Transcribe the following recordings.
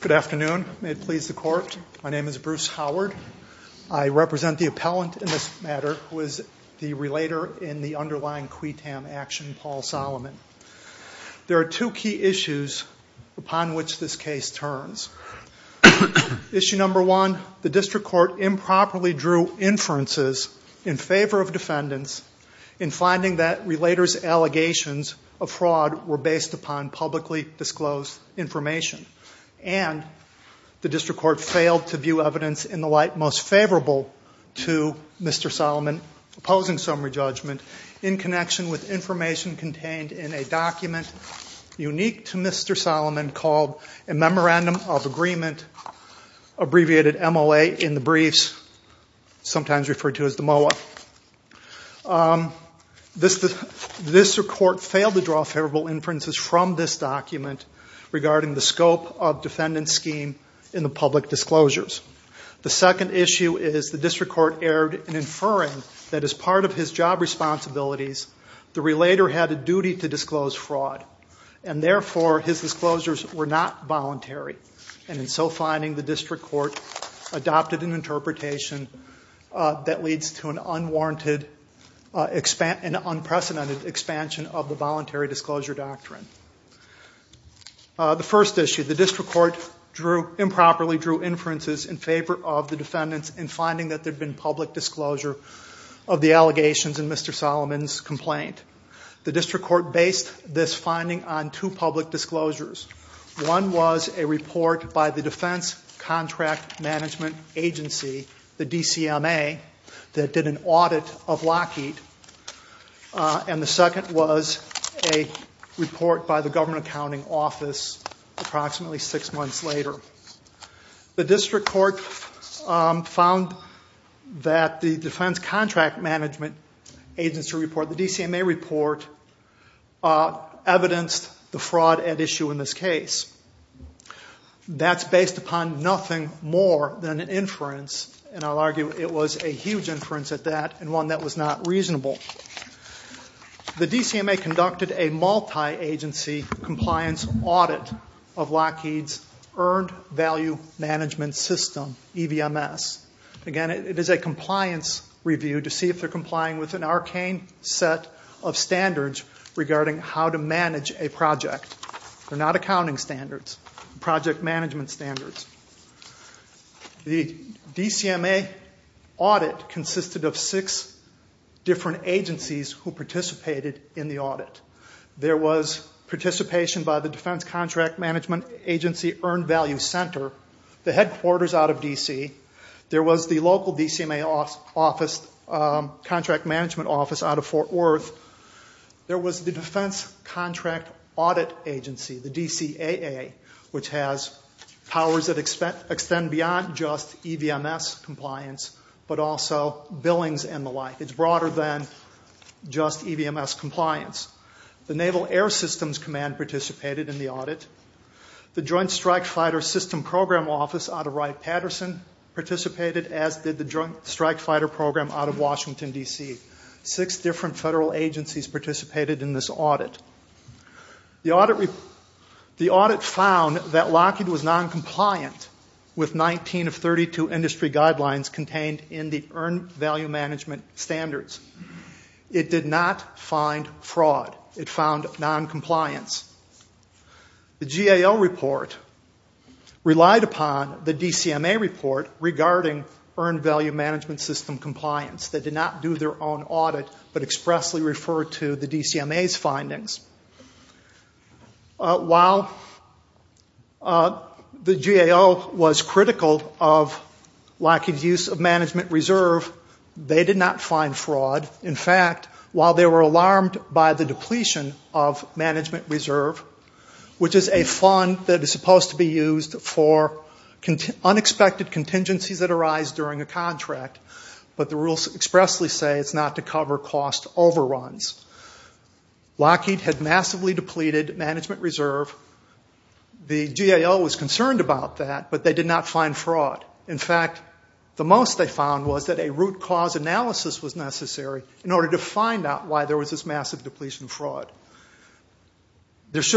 Good afternoon. May it please the Court, my name is Bruce Howard. I represent the appellant in this matter who is the relator in the underlying QUETAM action, Paul Solomon. There are two key issues upon which this case turns. Issue number one, the District Court improperly drew inferences in favor of defendants in finding that relators' allegations of fraud were based upon publicly disclosed information. And the District Court failed to view evidence in the light most favorable to Mr. Solomon opposing summary judgment in connection with information contained in a document unique to Mr. Solomon called a Memorandum of Agreement, abbreviated MLA in the briefs, sometimes referred to as the MOA. The District Court failed to view favorable inferences from this document regarding the scope of defendant's scheme in the public disclosures. The second issue is the District Court erred in inferring that as part of his job responsibilities, the relator had a duty to disclose fraud. And therefore his disclosures were not voluntary. And in so finding, the District Court adopted an amendment that leads to an unprecedented expansion of the voluntary disclosure doctrine. The first issue, the District Court improperly drew inferences in favor of the defendants in finding that there had been public disclosure of the allegations in Mr. Solomon's complaint. The District Court based this finding on two public disclosures. One was a report by the District Court that did an audit of Lockheed. And the second was a report by the Government Accounting Office approximately six months later. The District Court found that the Defense Contract Management Agency report, the DCMA report, evidenced the fraud at issue in this case. That's based upon nothing more than an inference, and I'll argue it was a huge inference at that, and one that was not reasonable. The DCMA conducted a multi-agency compliance audit of Lockheed's Earned Value Management System, EVMS. Again, it is a compliance review to see if they're complying with an arcane set of standards regarding how to manage a project. They're not accounting standards, project management standards. The DCMA audit consisted of six different agencies who participated in the audit. There was participation by the Defense Contract Management Agency Earned Value Center, the headquarters out of D.C. There was the local DCMA contract management office out of Fort Worth. There was the Defense Contract Audit Agency, the DCAA, which has powers that extend beyond just EVMS compliance, but also billings and the like. It's broader than just EVMS compliance. The Naval Air Systems Command participated in the audit. The Joint Strike Fighter System Program Office out of Wright-Patterson participated, as did the Joint Strike Fighter Program out of Washington, D.C. Six different federal agencies participated in this audit. The audit found that Lockheed was noncompliant with 19 of 32 industry guidelines contained in the Earned Value Management Standards. It did not find fraud. It found noncompliance. The GAO report relied upon the DCMA report regarding Earned Value Management System compliance. They did not do their own audit, but expressly referred to the DCMA's findings. While the GAO was critical of Lockheed's use of management reserve, they did not find fraud. In fact, while they were alarmed by the depletion of management reserve, which is a fund that is supposed to be used for unexpected contingencies that arise during a contract, but the rules expressly say it's not to cover cost overruns. Lockheed had massively depleted management reserve. The GAO was concerned about that, but they did not find fraud. In fact, the most they found was that a root cause analysis was necessary in order to find out why there was this massive depletion of fraud. There is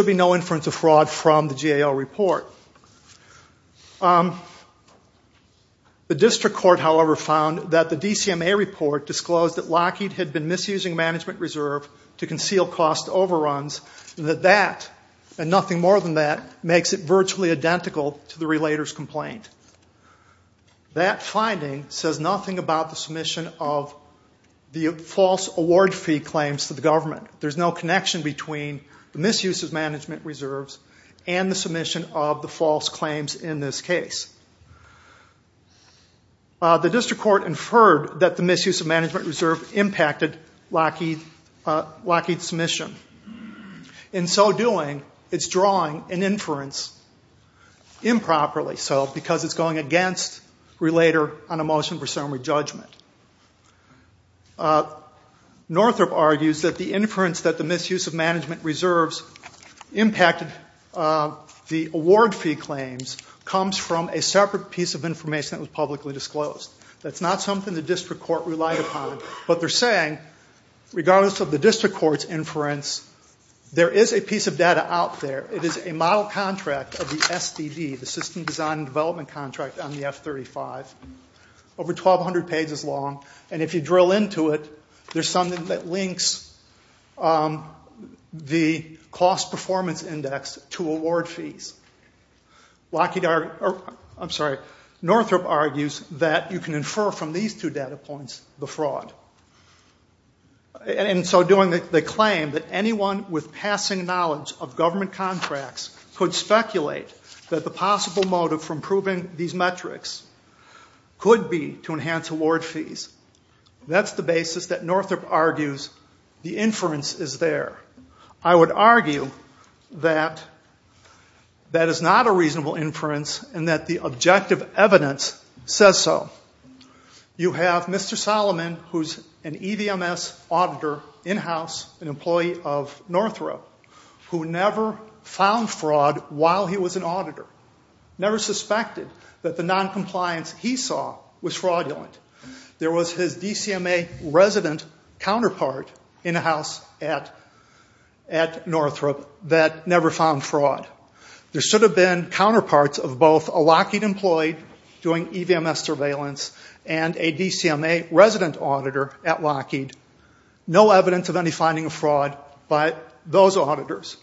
no connection between the misuse of management reserves and the submission of the false claims in this case. The district court inferred that the misuse of management reserve impacted Lockheed's submission. In so doing, it's drawing an inference improperly, because it's going against relater on a motion for summary judgment. Northrop argues that the inference that the misuse of management reserves impacted the award fee claims comes from a separate piece of information that was publicly disclosed. That's not something the district court relied upon, but they're saying, regardless of the district court's inference, there is a piece of data out there. It is a model contract of the SDD, the system design and development contract, on the F-35, over 1,200 pages long. If you drill into it, there's something that links the cost performance index to award fees. Northrop argues that you can infer from these two data points the fraud. In so doing, they claim that anyone with passing knowledge of government contracts could speculate that the possible motive for improving these metrics could be to enhance award fees. That's the basis that Northrop argues the inference is there. I would argue that that is not a reasonable inference and that the objective evidence says so. You have Mr. Solomon, who's an EVMS auditor in-house, an employee of Northrop, who never found fraud while he was an auditor, never suspected that the noncompliance he had at Northrop that never found fraud. There should have been counterparts of both a Lockheed employee doing EVMS surveillance and a DCMA resident auditor at Lockheed. No evidence of any finding of fraud by those auditors.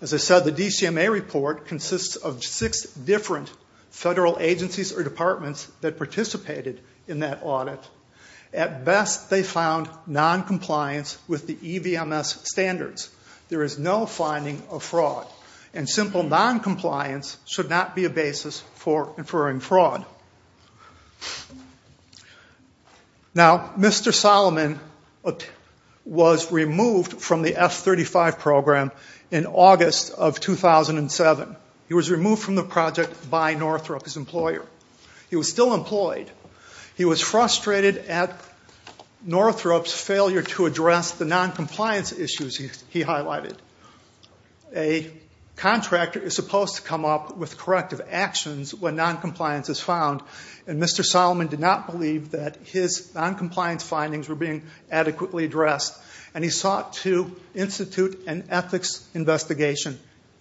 As I said, the DCMA report consists of six different federal agencies or departments that participated in that audit. At best, they found noncompliance with the EVMS standards. There is no finding of fraud. Simple noncompliance should not be a basis for inferring fraud. Mr. Solomon was removed from the F-35 program in August of 2007. He was removed from the project by Northrop, his employer. He was still employed. He was frustrated at Northrop's failure to address the noncompliance issues he highlighted. A contractor is supposed to come up with corrective actions when noncompliance is found, and Mr. Solomon did not believe that his noncompliance findings were being adequately addressed, and he sought to institute an ethics investigation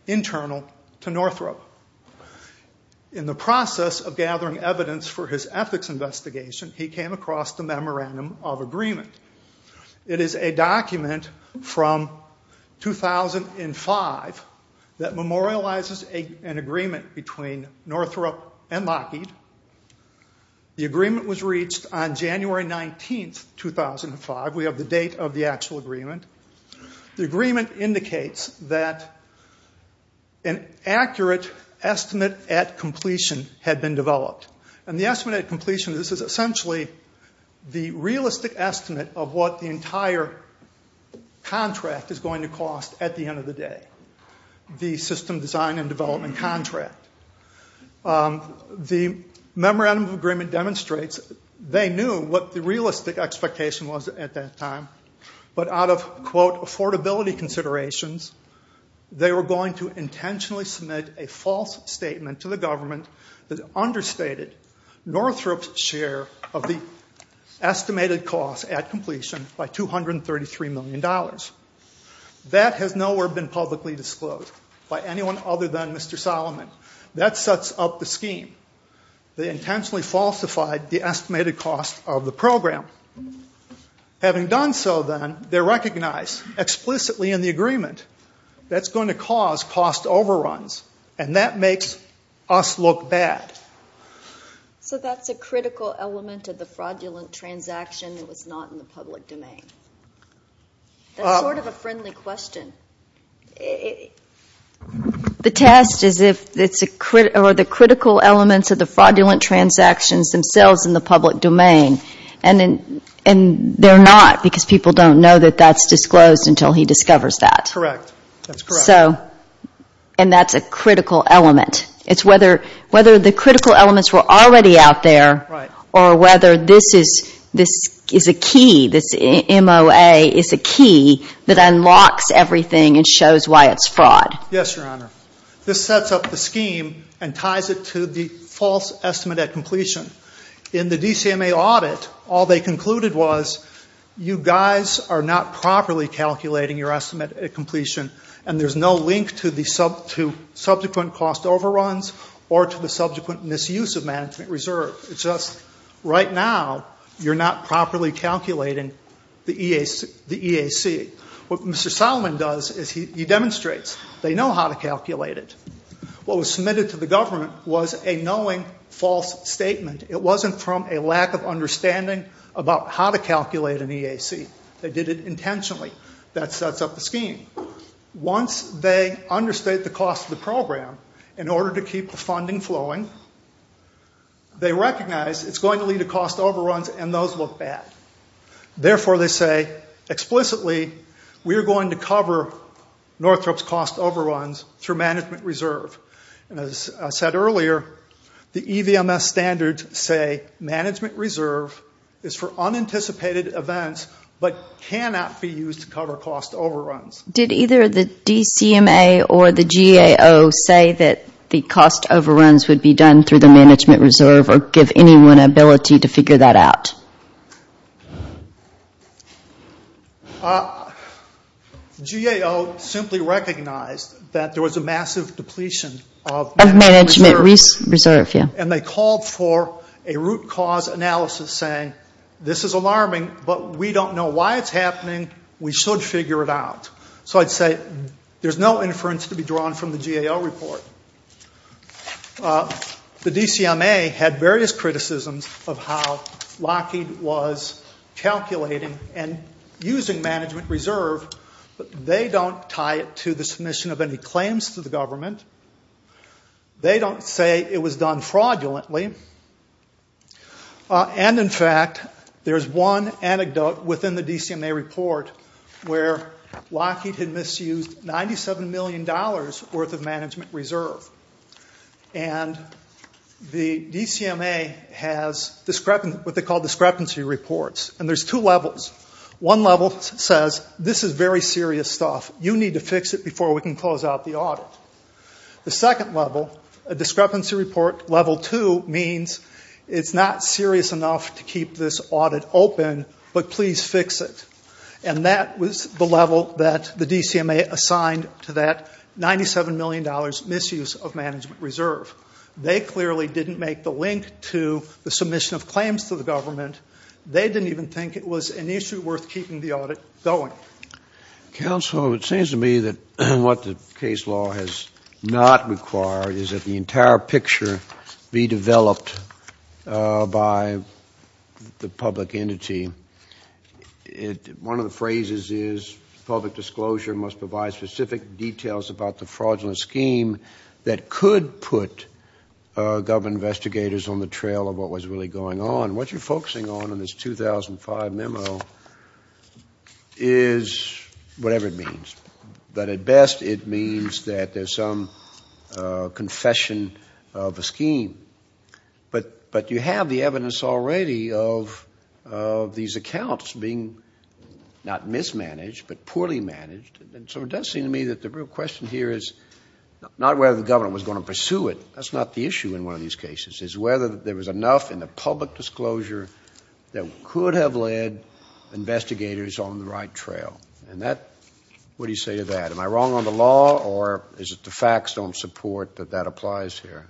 internal to Northrop. In the process of gathering evidence for his ethics investigation, he came across the Memorandum of Agreement. It is a document from 2005 that memorializes an agreement between Northrop and Lockheed. The agreement was reached on January 19, 2005. We have the date of the meeting. An estimate at completion had been developed. This is essentially the realistic estimate of what the entire contract is going to cost at the end of the day, the system design and development contract. The Memorandum of Agreement demonstrates they knew what the realistic expectation was at that time, but out of, quote, affordability considerations, they were going to intentionally submit a false statement to the government that understated Northrop's share of the estimated cost at completion by $233 million. That has nowhere been publicly disclosed by anyone other than Mr. Solomon. That sets up the scheme. They intentionally falsified the estimated cost of the program. Having done so, then, they implicitly in the agreement, that's going to cause cost overruns, and that makes us look bad. So that's a critical element of the fraudulent transaction that was not in the public domain. That's sort of a friendly question. The test is if it's a critical element of the fraudulent transactions themselves in the public domain, and they're not, because people don't know that that's disclosed until he discovers that. Correct. That's correct. And that's a critical element. It's whether the critical elements were already out there, or whether this is a key, this MOA is a key that unlocks everything and shows why it's fraud. Yes, Your Honor. This sets up the scheme and ties it to the false estimate at completion. In the DCMA audit, all they concluded was, you guys are not properly calculating your estimate at completion, and there's no link to subsequent cost overruns or to the subsequent misuse of management reserve. It's just right now, you're not properly calculating the EAC. What Mr. Solomon does is he demonstrates. They know how to calculate it. What was submitted to the government was a knowing false statement. It wasn't from a lack of understanding about how to calculate an EAC. They did it intentionally. That sets up the scheme. Once they understate the cost of the program, in order to keep the funding flowing, they recognize it's going to lead to cost overruns, and those look bad. Therefore, they say, explicitly, we're going to cover Northrop's cost overruns through management reserve. As I said earlier, the EVMS standards say management reserve is for unanticipated events but cannot be used to cover cost overruns. Did either the DCMA or the GAO say that the cost overruns would be done through the management reserve or give anyone an ability to figure that out? GAO simply recognized that there was a massive depletion of management reserve. And they called for a root cause analysis saying, this is alarming, but we don't know why it's happening. We should figure it out. So I'd say there's no inference to be drawn from the GAO report. The DCMA had various criticisms of how Lockheed was calculating and using management reserve. They don't tie it to the submission of any claims to the government. They don't say it was done fraudulently. And, in fact, there's one anecdote within the DCMA report where Lockheed had misused $97 million worth of management reserve. And the DCMA has what they call discrepancy reports. And there's two levels. One level says, this is very serious stuff. You need to fix it before we can close out the audit. The second level, a discrepancy report level two means it's not serious enough to keep this audit open, but please fix it. And that was the level that the DCMA assigned to that $97 million misuse of management reserve. They clearly didn't make the link to the submission of claims to the government. They didn't even think it was an issue worth keeping the audit going. Counsel, it seems to me that what the case law has not required is that the entire picture be developed by the public entity. One of the phrases is, public disclosure must provide specific details about the fraudulent scheme that could put government investigators on the trail of what was really going on. What you're focusing on in this 2005 memo is whatever it means. But at best, it means that there's some confession of a scheme. But you have the evidence already of these accounts being not mismanaged, but poorly managed. And so it does seem to me that the real question here is not whether the government was going to pursue it. That's not the issue in one of these cases, is whether there was enough in the public disclosure that could have led investigators on the right trail. And that, what do you say to that? Am I wrong on the law, or is it the facts don't support that that applies here?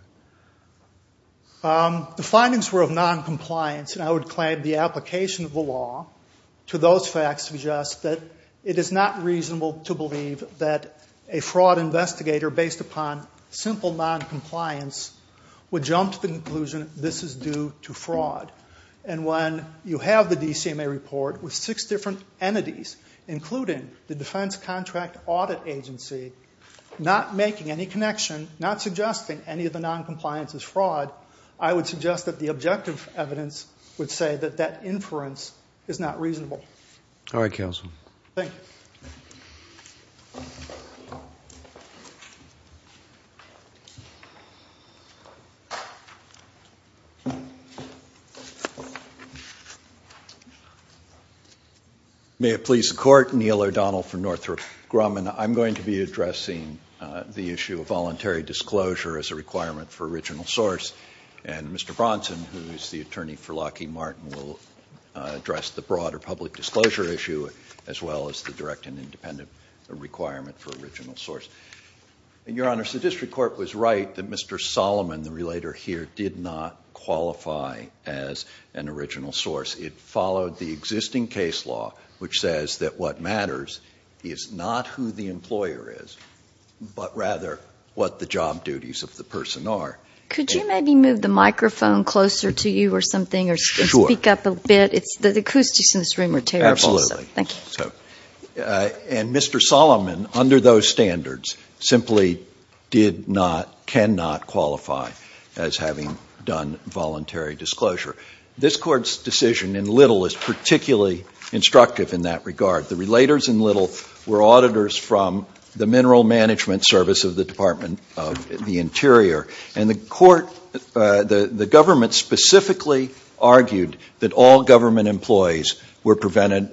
The findings were of noncompliance, and I would claim the application of the law to those facts suggests that it is not reasonable to believe that a fraud investigator based upon simple noncompliance would jump to the conclusion this is due to fraud. And when you have the DCMA report with six different entities, including the defense contract audit agency, not making any connection, not suggesting any of the noncompliance is fraud, I would suggest that the objective evidence would say that that inference is not reasonable. All right, counsel. May it please the Court, Neil O'Donnell for Northrop Grumman. I'm going to be addressing the issue of voluntary disclosure as a requirement for original source, and Mr. Bronson, who is going to be addressing the public disclosure issue, as well as the direct and independent requirement for original source. Your Honor, the district court was right that Mr. Solomon, the relator here, did not qualify as an original source. It followed the existing case law, which says that what matters is not who the employer is, but rather what the job duties of the person are. Could you maybe move the microphone closer to you or something or speak up a bit? Sure. The acoustics in this room are terrible. Absolutely. Thank you. And Mr. Solomon, under those standards, simply did not, cannot qualify as having done voluntary disclosure. This Court's decision in Little is particularly instructive in that regard. The relators in Little were auditors from the Mineral Management Service of the Department of the Interior, and the government specifically argued that all government employees were prevented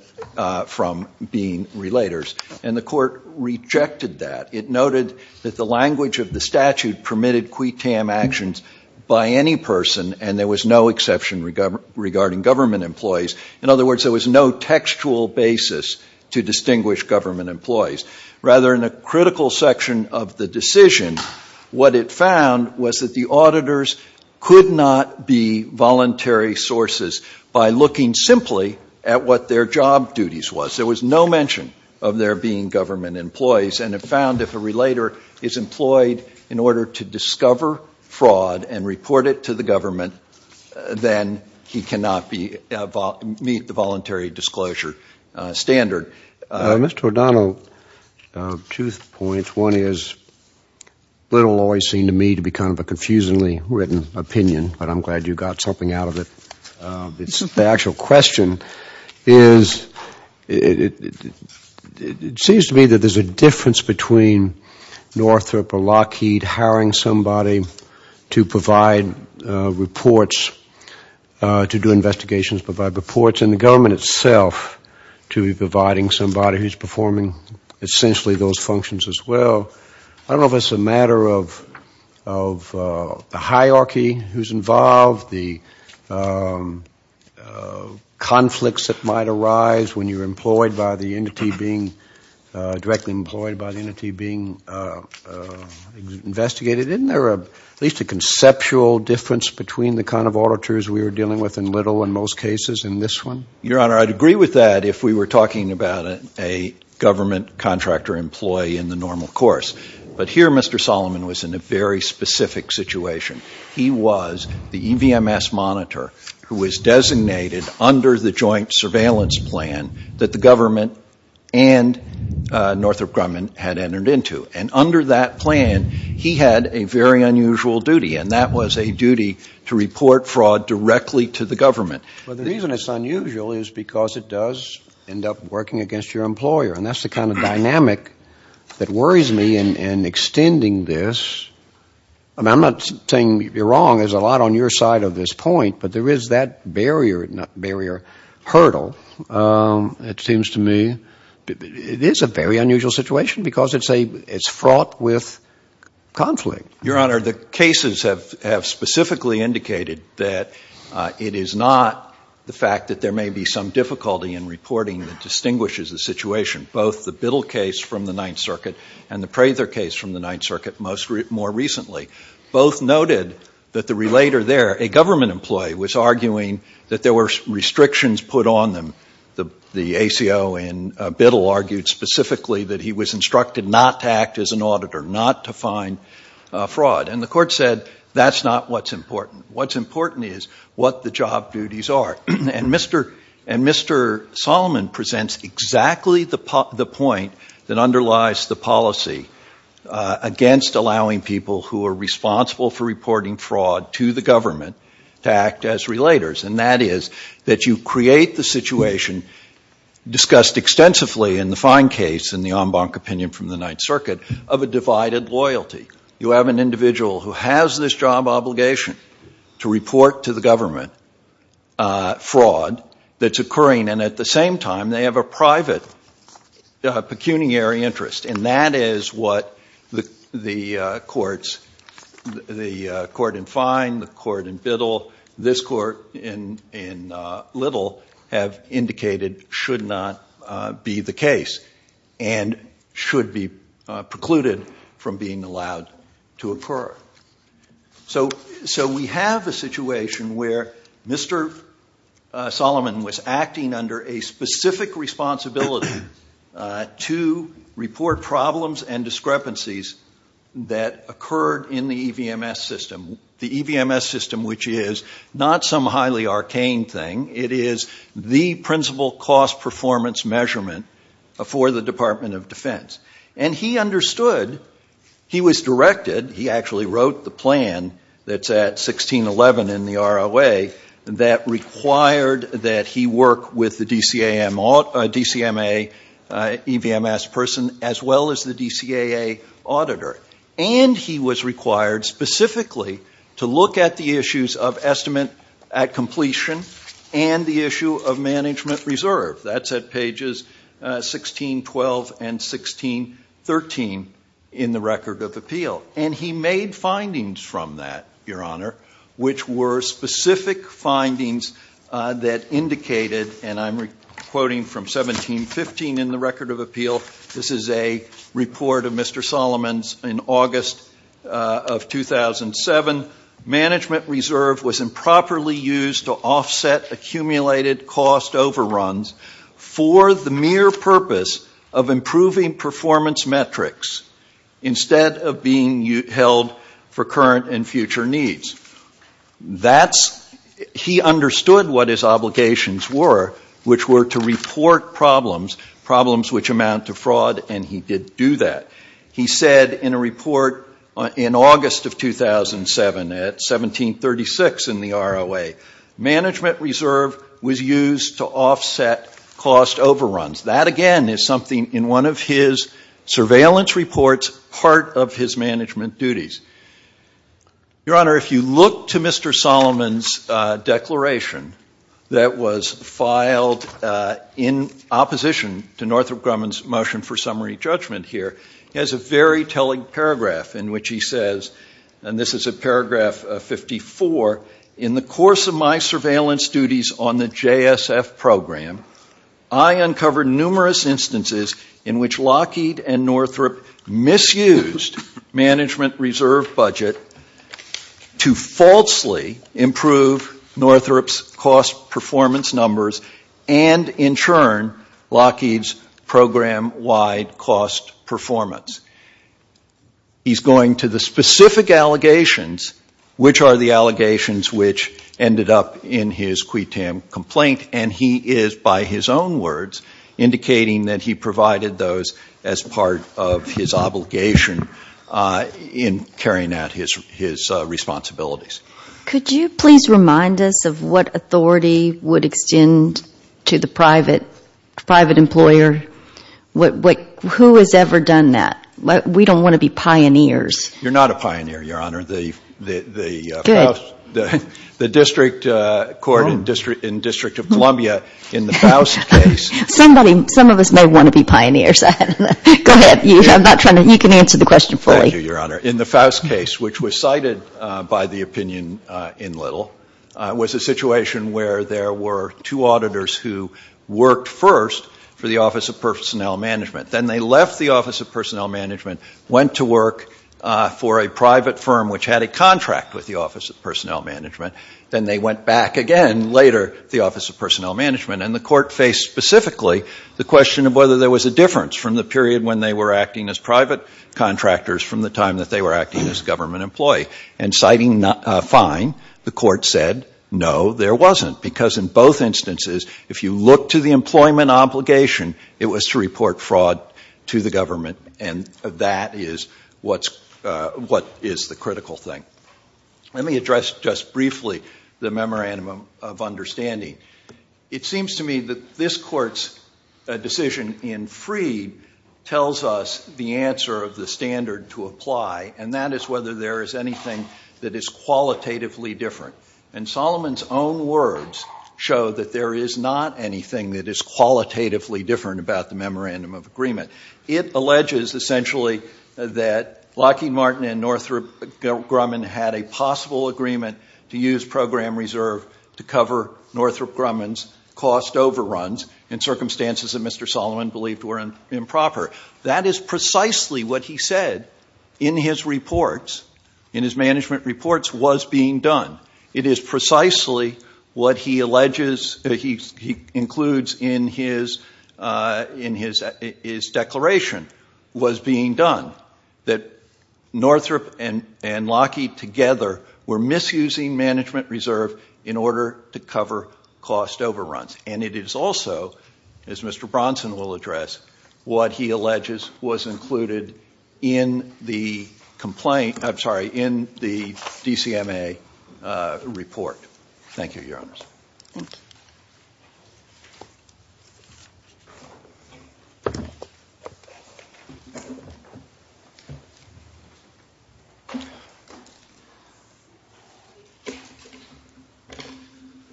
from being relators, and the Court rejected that. It noted that the language of the statute permitted quid tam actions by any person, and there was no exception regarding government employees. In other words, there was no textual basis to distinguish government employees. Rather, in a critical section of the decision, what it found was that the auditors could not be voluntary sources by looking simply at what their job duties was. There was no mention of there being government employees, and it found if a relator is employed in order to discover fraud and report it to the government, then he cannot meet the voluntary disclosure standard. Mr. O'Donnell, two points. One is, Little always seemed to me to be kind of a confusingly written opinion, but I'm glad you got something out of it. The actual question is, it seems to me that there's a difference between Northrop or Lockheed hiring somebody to provide reports, to do investigations, provide reports, and the government itself to be providing somebody who's performing essentially those functions as well. I don't know if it's a matter of the hierarchy who's involved, the conflicts that might arise when you're employed by the entity being, directly employed by the entity being investigated. Isn't there at least a difference in the number of auditors we were dealing with in Little in most cases in this one? Your Honor, I'd agree with that if we were talking about a government contractor employee in the normal course. But here, Mr. Solomon was in a very specific situation. He was the EVMS monitor who was designated under the joint surveillance plan that the government and Northrop Grumman had entered into. And under that plan, he had a very unusual duty, and that was a duty to report fraud directly to the government. Well, the reason it's unusual is because it does end up working against your employer. And that's the kind of dynamic that worries me in extending this. I'm not saying you're wrong. There's a lot on your side of this point. But there is that barrier hurdle, it seems to me. It is a very unusual situation because it's fraught with conflict. Your Honor, the cases have specifically indicated that it is not the fact that there may be some difficulty in reporting that distinguishes the situation, both the Biddle case from the Ninth Circuit and the Prather case from the Ninth Circuit more recently. Both noted that the relator there, a government employee, was arguing that there were restrictions put on them. The ACO in Biddle argued specifically that he was instructed not to act as an auditor, not to find fraud. And the Court said that's not what's important. What's important is what the job duties are. And Mr. Solomon presents exactly the point that underlies the policy against allowing people who are responsible for reporting fraud to the government to act as relators. And that is that you create the situation discussed extensively in the Ninth Circuit of a divided loyalty. You have an individual who has this job obligation to report to the government fraud that's occurring. And at the same time, they have a private pecuniary interest. And that is what the courts, the court in Fine, the court in Biddle, this court in Little, have indicated should not be the case and should be precluded from being allowed to occur. So we have a situation where Mr. Solomon was acting under a specific responsibility to report problems and discrepancies that occurred in the EVMS system. The EVMS system, which is not some highly arcane thing. It is the principal cost performance measurement for the Department of Defense. And he understood, he was directed, he actually wrote the plan that's at 1611 in the ROA that required that he work with the DCMA EVMS person as well as the DCAA auditor. And he was required specifically to look at the issues of estimate at completion and the issue of management reserve. That's at pages 1612 and 1613 in the Record of Appeal. And he made findings from that, Your Honor, which were specific findings that indicated, and I'm quoting from 1715 in the Record of Appeal. This is a report of Mr. Solomon's in August of 2007. Management reserve was improperly used to offset accumulated cost overruns for the mere purpose of improving performance metrics instead of being held for current and future needs. That's, he understood what his obligations were, which were to report problems, problems which amount to fraud, and he did do that. He said in a report in August of 2007 at 1736 in the ROA, management reserve was used to duties. Your Honor, if you look to Mr. Solomon's declaration that was filed in opposition to Northrop Grumman's motion for summary judgment here, he has a very telling paragraph in which he says, and this is at paragraph 54, in the course of my surveillance duties on the JSF program, I uncovered numerous instances in which Lockheed and Northrop misused management reserve budget to falsely improve Northrop's cost performance numbers and, in turn, Lockheed's program-wide cost performance. He's going to the specific allegations, which are the ones that he is, by his own words, indicating that he provided those as part of his obligation in carrying out his responsibilities. Could you please remind us of what authority would extend to the private employer? Who has ever done that? We don't want to be pioneers. You're not a pioneer, Your Honor. Good. The District Court in District of Columbia, in the Faust case- Some of us may want to be pioneers. Go ahead. You can answer the question fully. Thank you, Your Honor. In the Faust case, which was cited by the opinion in Little, was a situation where there were two auditors who worked first for the Office of Personnel Management. Then they left the Office of Personnel Management, went to work for a private firm which had a contract with the Office of Personnel Management. Then they went back again, later, the Office of Personnel Management. And the Court faced specifically the question of whether there was a difference from the period when they were acting as private contractors from the time that they were acting as government employees. And citing fine, the Court said, no, there wasn't, because in both instances, if you look to the employment obligation, it was to report fraud to the government. And that is what is the critical thing. Let me address just briefly the memorandum of understanding. It seems to me that this Court's decision in Freed tells us the answer of the standard to apply, and that is whether there is anything that is qualitatively different. And Solomon's own words show that there is not anything that is qualitatively different about the memorandum of agreement. It alleges essentially that Lockheed Martin and Northrop Grumman had a possible agreement to use program reserve to cover Northrop Grumman's cost overruns in circumstances that Mr. Solomon believed were improper. That is precisely what he said in his reports, in his management reports, was being done. It is precisely what he alleges he includes in his declaration was being done, that Northrop and Lockheed together were misusing management reserve in order to cover cost overruns. And it is also, as Mr. Bronson will address, what he alleges was included in the DCMA report. Thank you, Your Honors.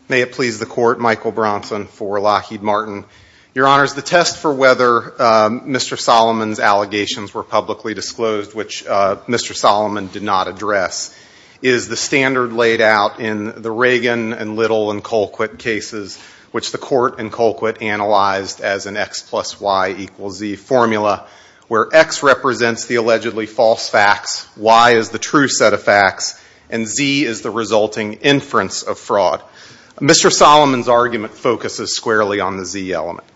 May it please the Court, Michael Bronson for Lockheed Martin. Your Honors, the test for whether Mr. Solomon's allegations were publicly disclosed, which Mr. Solomon did not address, is the standard laid out in the Reagan and Little and Colquitt cases, which the Court and Colquitt analyzed as an X plus Y equals Z formula, where X represents the allegedly false facts, Y is the true set of facts, and Z is the resulting inference of fraud. Mr. Solomon's argument focuses squarely on the Z element.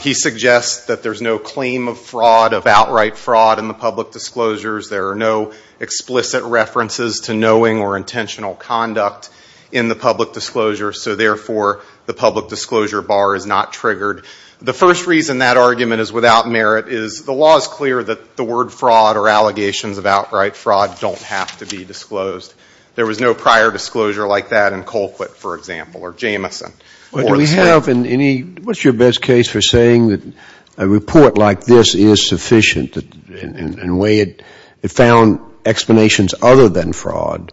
He suggests that there's no claim of fraud, of outright fraud in the public disclosures, there are no explicit references to knowing or intentional conduct in the public disclosures, so therefore the public disclosure bar is not triggered. The first reason that argument is without merit is the law is clear that the word fraud or allegations of outright fraud don't have to be disclosed. There was no prior disclosure like that in Colquitt, for example, or Jamison. Do we have any, what's your best case for saying that a report like this is sufficient in ways that it found explanations other than fraud?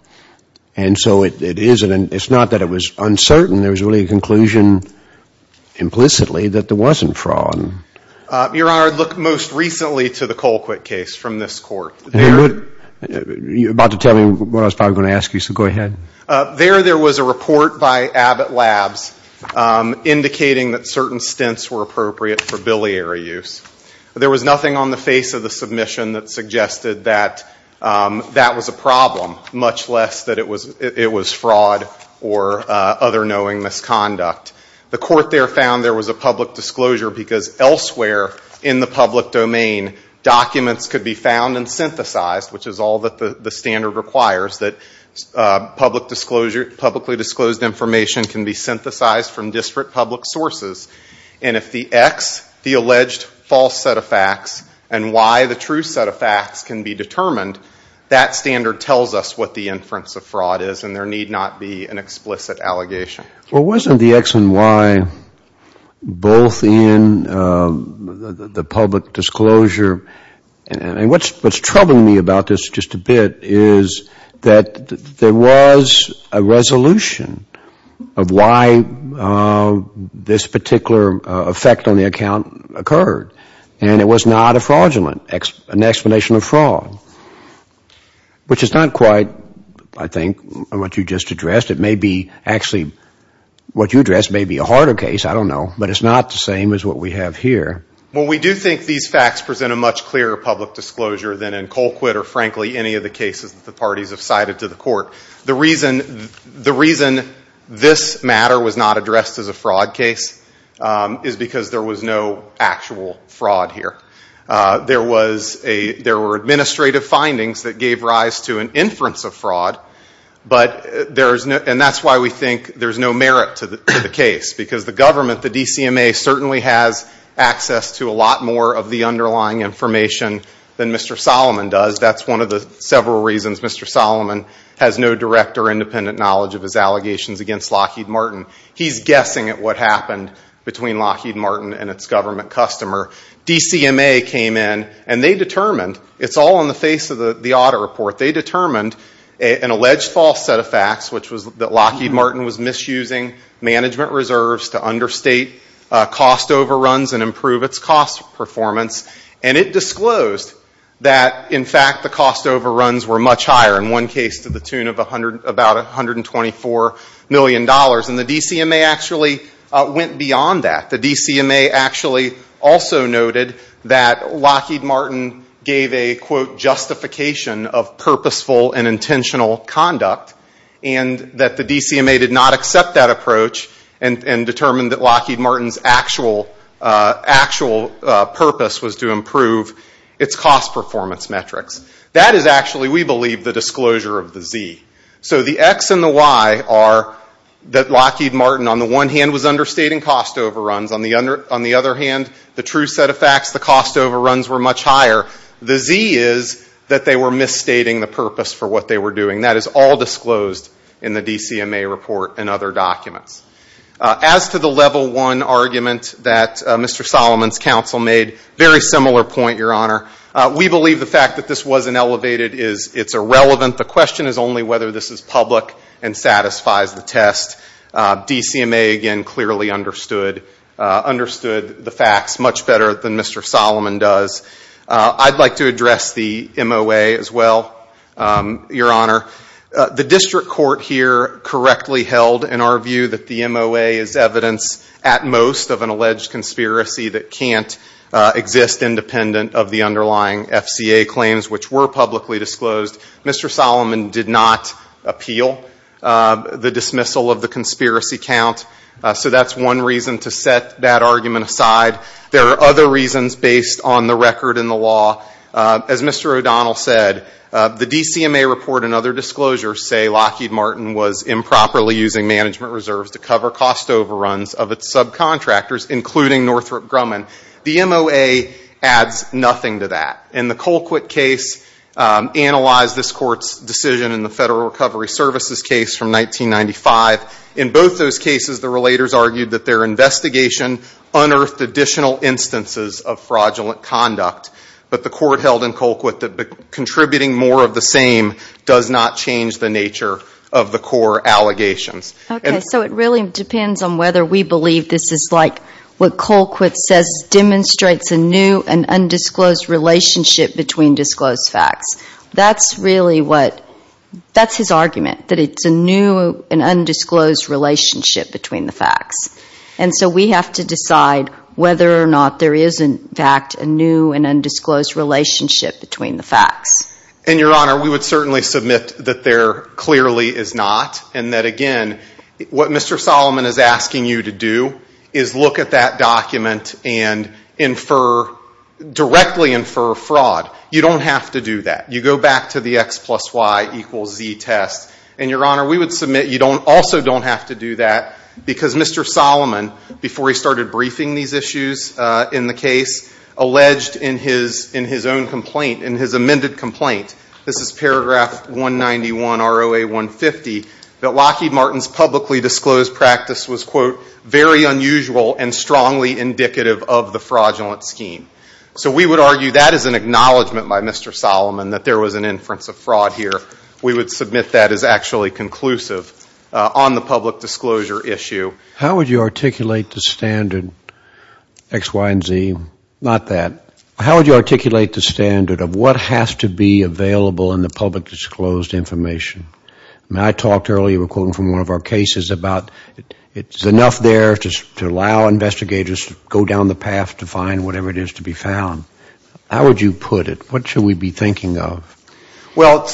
And so it isn't, it's not that it was uncertain, there was really a conclusion implicitly that there wasn't fraud. Your Honor, look most recently to the Colquitt case from this Court. You're about to tell me what I was probably going to ask you, so go ahead. There there was a report by Abbott Labs indicating that certain stints were appropriate for biliary use. There was nothing on the face of the submission that suggested that that was a problem, much less that it was fraud or other knowing misconduct. The Court there found there was a public disclosure because elsewhere in the public domain documents could be found and synthesized, which is all that the standard requires, that publicly disclosed information can be synthesized from disparate public sources. And if the X, the alleged false set of facts and why the true set of facts can be determined, that standard tells us what the inference of fraud is and there need not be an explicit allegation. Well, wasn't the X and Y both in the public disclosure, and what's troubling me about this just a bit is that there was a resolution of why this particular effect on the account occurred. And it was not a fraudulent, an explanation of fraud, which is not quite, I think, what you just addressed. It may be actually, what you addressed may be a harder case, I don't know, but it's not the same as what we have here. Well, we do think these facts present a much clearer public disclosure than in Colquitt or frankly any of the cases that the parties have cited to the Court. The reason this matter was not addressed as a fraud case is because there was no actual fraud here. There were administrative findings that gave rise to an inference of fraud, and that's why we think there's no merit to the case, because the government, the DCMA, certainly has access to a lot more of the underlying information than Mr. Solomon does. That's one of the several reasons Mr. Solomon has no direct or independent knowledge of his allegations against Lockheed Martin. He's guessing at what happened between Lockheed Martin and its government customer. DCMA came in and they determined, it's all on the face of the audit report, they determined an alleged false set of facts, which was that Lockheed Martin was misusing management reserves to understate cost overruns and improve its cost performance. And it disclosed that, in fact, the cost overruns were much higher, in one case to the tune of about $124 million. And the DCMA actually went beyond that. The DCMA actually also noted that Lockheed Martin gave a, quote, justification of purposeful and intentional conduct, and that the DCMA did not accept that approach and determined that Lockheed Martin's actual purpose was to improve its cost performance metrics. That is actually, we believe, the disclosure of the Z. So the X and the Y are that Lockheed Martin, on the one hand, was understating cost overruns. On the other hand, the true set of facts, the cost overruns were much higher. The Z is that they were misstating the purpose for what they were doing. That is all disclosed in the DCMA report and other documents. As to the Level 1 argument that Mr. Solomon's counsel made, very similar point, Your Honor. We believe the fact that this wasn't elevated is irrelevant. The question is only whether this is public and satisfies the test. DCMA, again, clearly understood the facts much better than Mr. Solomon does. I'd like to address the MOA as well, Your Honor. The district court here correctly held, in our view, that the MOA is evidence, at most, of an alleged conspiracy that can't exist independent of the underlying FCA claims, which we believe are publicly disclosed. Mr. Solomon did not appeal the dismissal of the conspiracy count. So that's one reason to set that argument aside. There are other reasons based on the record in the law. As Mr. O'Donnell said, the DCMA report and other disclosures say Lockheed Martin was improperly using management reserves to cover cost overruns of its subcontractors, including Northrop Grumman. The MOA adds nothing to that. And the Colquitt case analyzed this Court's decision in the Federal Recovery Services case from 1995. In both those cases, the relators argued that their investigation unearthed additional instances of fraudulent conduct. But the court held in Colquitt that contributing more of the same does not change the nature of the core allegations. Okay. So it really depends on whether we believe this is like what Colquitt says demonstrates a new and undisclosed relationship between disclosed facts. That's his argument, that it's a new and undisclosed relationship between the facts. And so we have to decide whether or not there is, in fact, a new and undisclosed relationship between the facts. And, Your Honor, we would certainly submit that there clearly is not, and that, again, what Mr. Solomon is asking you to do is look at that document and infer, directly infer fraud. You don't have to do that. You go back to the X plus Y equals Z test. And, Your Honor, we would submit you also don't have to do that because Mr. Solomon, before he started briefing these issues in the case, alleged in his own complaint, in his amended complaint, this is paragraph 191, ROA 150, that Lockheed Martin's publicly disclosed practice was, quote, very unusual and strongly indicative of the fraudulent scheme. So we would argue that is an acknowledgment by Mr. Solomon that there was an inference of fraud here. We would submit that as actually conclusive on the public disclosure issue. How would you articulate the standard X, Y, and Z? Not that. How would you articulate the standard of what has to be available in the public disclosed information? I mean, I talked earlier, quoting from one of our cases, about it's enough there to allow investigators to go down the path to find whatever it is to be found. How would you put it? What should we be thinking of? Well,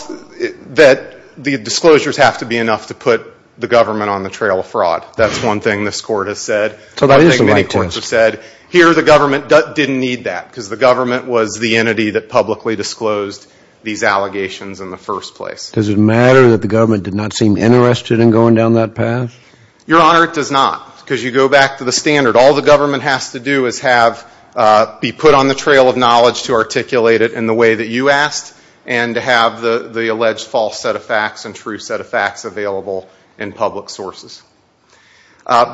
that the disclosures have to be enough to put the government on the trail of fraud. That's one thing this Court has said. Here the government didn't need that because the government was the entity that publicly disclosed these allegations. Does it matter that the government did not seem interested in going down that path? Your Honor, it does not. Because you go back to the standard. All the government has to do is have, be put on the trail of knowledge to articulate it in the way that you asked and to have the alleged false set of facts and true set of facts available in public sources.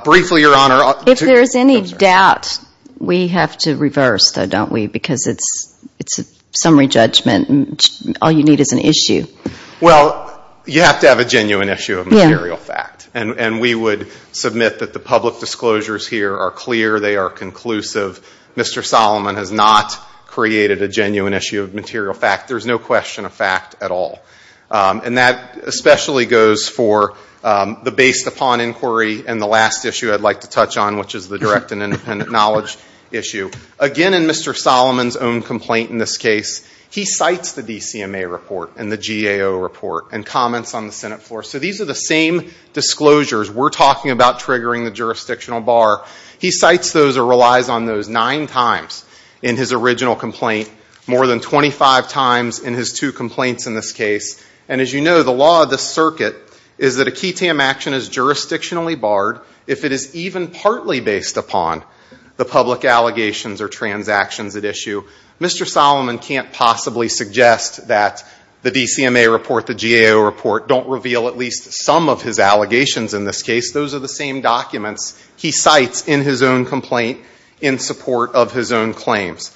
Briefly, Your Honor. If there is any doubt, we have to reverse, though, don't we? Because it's a summary judgment and all you need is an issue. Well, you have to have a genuine issue of material fact. And we would submit that the public disclosures here are clear, they are conclusive. Mr. Solomon has not created a genuine issue of material fact. There's no question of fact at all. And that especially goes for the based upon inquiry and the last issue I'd like to touch on, which is the direct and independent knowledge issue. Again, in Mr. Solomon's own complaint in this case, he cites the DCMA report. And the GAO report. And comments on the Senate floor. So these are the same disclosures. We're talking about triggering the jurisdictional bar. He cites those or relies on those nine times in his original complaint. More than 25 times in his two complaints in this case. And as you know, the law of the circuit is that a key TAM action is jurisdictionally barred if it is even partly based upon the public allegations or transactions at issue. Mr. Solomon can't possibly suggest that the DCMA report, the GAO report, don't reveal at least some of his allegations in this case. Those are the same documents he cites in his own complaint in support of his own claims.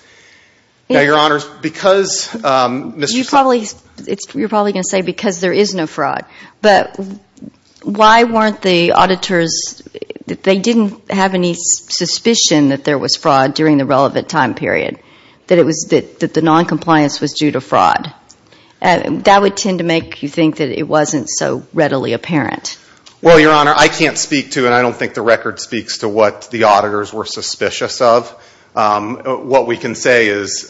Now, Your Honors, because Mr. Solomon... You're probably going to say because there is no fraud. But why weren't the auditors, they didn't have any suspicion that there was fraud during the relevant time period. That the noncompliance was due to fraud. Why didn't the auditors have any suspicion? That would tend to make you think that it wasn't so readily apparent. Well, Your Honor, I can't speak to, and I don't think the record speaks to what the auditors were suspicious of. What we can say is,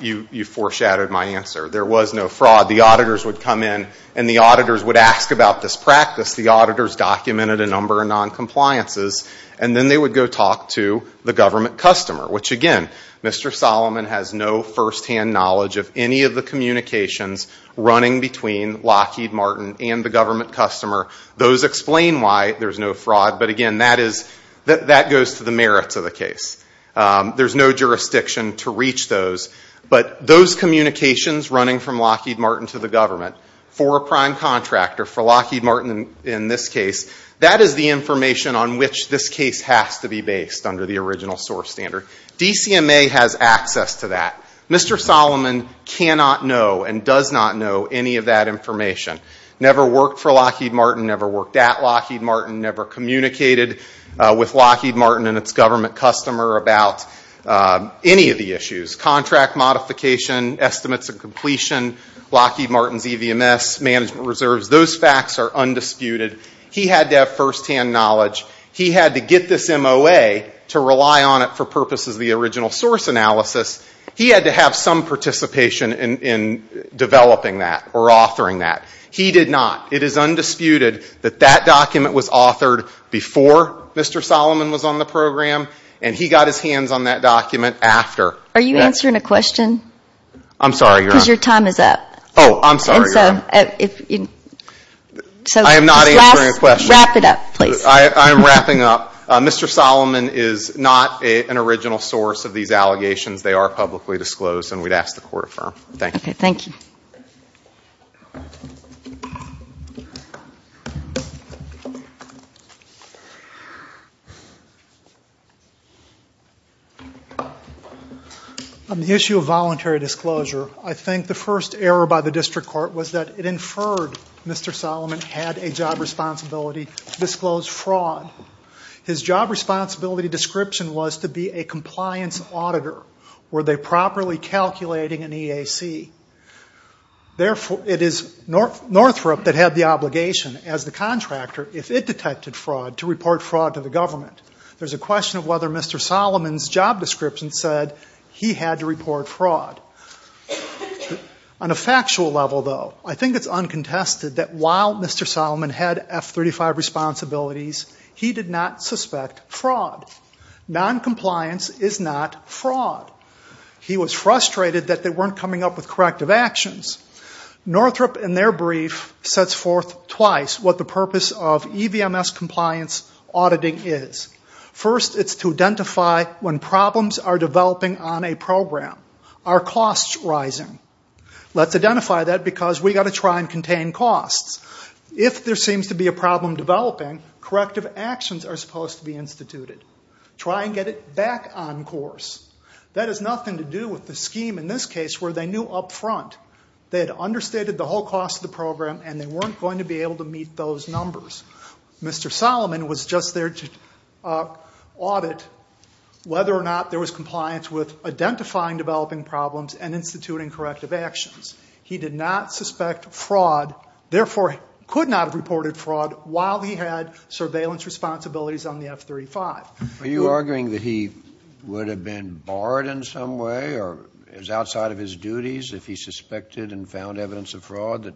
you foreshadowed my answer. There was no fraud. The auditors would come in and the auditors would ask about this practice. The auditors documented a number of noncompliances. And then they would go talk to the government customer. Which, again, Mr. Solomon has no firsthand knowledge of any of the communications running between Lockheed Martin and the government customer. Those explain why there's no fraud. But again, that goes to the merits of the case. There's no jurisdiction to reach those. But those communications running from Lockheed Martin to the government, for a prime contractor, for Lockheed Martin in this case, that is the information on which this case has to be based under the DCMA. DCMA has access to that. Mr. Solomon cannot know, and does not know, any of that information. Never worked for Lockheed Martin, never worked at Lockheed Martin, never communicated with Lockheed Martin and its government customer about any of the issues. Contract modification, estimates of completion, Lockheed Martin's EVMS, management reserves, those facts are undisputed. He had to have firsthand knowledge. He had to get this MOA to rely on it for purposes of this case. And the original source analysis, he had to have some participation in developing that or authoring that. He did not. It is undisputed that that document was authored before Mr. Solomon was on the program, and he got his hands on that document after. Are you answering a question? I'm sorry, Your Honor. Because your time is up. Oh, I'm sorry, Your Honor. I am not answering a question. Wrap it up, please. I am wrapping up. Mr. Solomon is not an original source of these allegations. They are publicly disclosed, and we would ask the Court to affirm. Thank you. Okay, thank you. On the issue of voluntary disclosure, I think the first error by the District Court was that it inferred Mr. Solomon had a job responsibility to disclose fraud. His job responsibility description was to be a compliance auditor. Were they properly calculating an EAC? It is Northrop that had the obligation as the contractor, if it detected fraud, to report fraud to the government. There is a question of whether Mr. Solomon's job description said he had to report fraud. On a factual level, though, I think it is uncontested that while Mr. Solomon had F-35 responsibilities, he did not suspect fraud. Noncompliance is not fraud. He was frustrated that they weren't coming up with corrective actions. Northrop in this case knew what corrective auditing is. First, it is to identify when problems are developing on a program. Are costs rising? Let's identify that because we have to try and contain costs. If there seems to be a problem developing, corrective actions are supposed to be instituted. Try and get it back on course. That has nothing to do with the scheme in this case where they knew up front. They had understated the whole cost of the program, and they weren't going to be able to keep those numbers. Mr. Solomon was just there to audit whether or not there was compliance with identifying developing problems and instituting corrective actions. He did not suspect fraud, therefore could not have reported fraud while he had surveillance responsibilities on the F-35. Are you arguing that he would have been barred in some way or was outside of his duties if he suspected and found evidence of fraud, that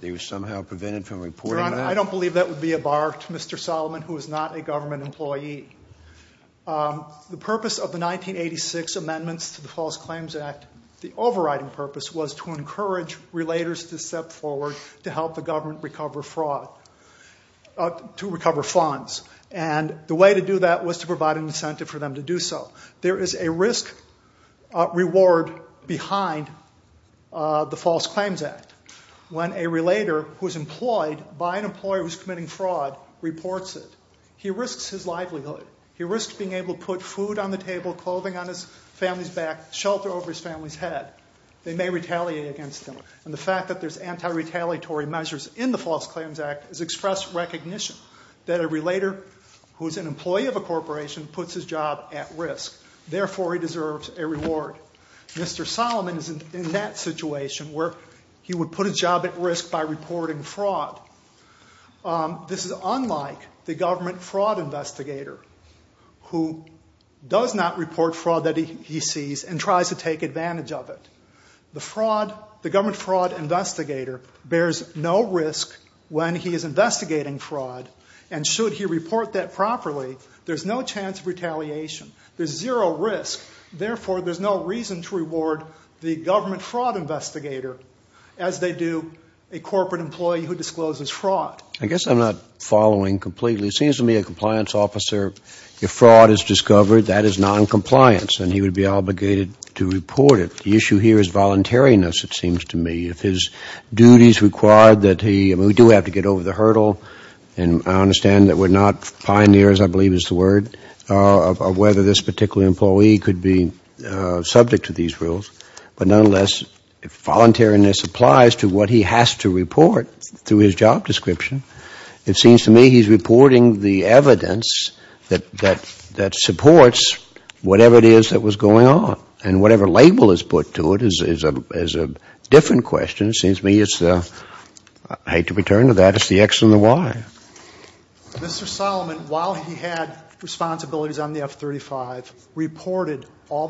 they were somehow prevented from reporting that? Your Honor, I don't believe that would be a bar to Mr. Solomon, who is not a government employee. The purpose of the 1986 amendments to the False Claims Act, the overriding purpose, was to encourage relators to step forward to help the government recover fraud, to recover funds. The way to do that was to provide an incentive for them to do so. There is a risk-reward behind the False Claims Act. When a relator who is employed by a government agency by an employer who is committing fraud reports it, he risks his livelihood. He risks being able to put food on the table, clothing on his family's back, shelter over his family's head. They may retaliate against him. And the fact that there's anti-retaliatory measures in the False Claims Act is express recognition that a relator who is an employee of a corporation puts his job at risk. Therefore, he deserves a reward. Mr. Solomon is in that situation where he would put his job at risk by reporting fraud. This is unlike the government fraud investigator who does not report fraud that he sees and tries to take advantage of it. The government fraud investigator bears no risk when he is investigating fraud. And should he report that properly, there's no chance of retaliation. There's zero risk. Therefore, there's no reason to hire a corporate employee who discloses fraud. Mr. Solomon, while he had responsibilities on the F-35, reported all the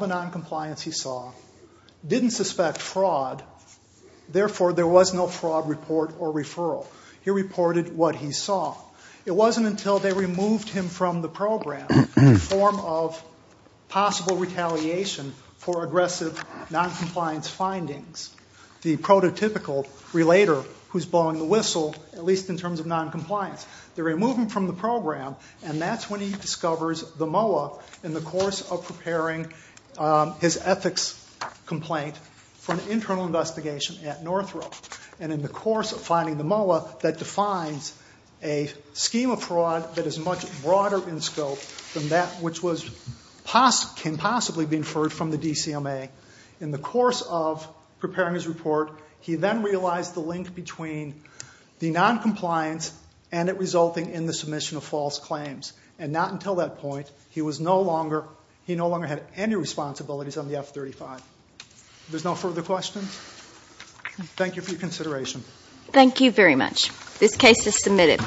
noncompliance he saw, didn't suspect fraud. Therefore, there was no fraud report or referral. He reported what he saw. It wasn't until they removed him from the program in the form of possible retaliation for aggressive noncompliance findings. The prototypical relator who's blowing the whistle, at least in terms of noncompliance, they remove him from the program, and that's when he discovers the MOA in the course of preparing his ethics complaint for an internal investigation. And in the course of finding the MOA, that defines a scheme of fraud that is much broader in scope than that which can possibly be inferred from the DCMA. In the course of preparing his report, he then realized the link between the noncompliance and it resulting in the submission of false claims. And not until that point, he no longer had any responsibilities on the F-35. There's no further questions? Thank you for your consideration. Thank you very much. This case is submitted.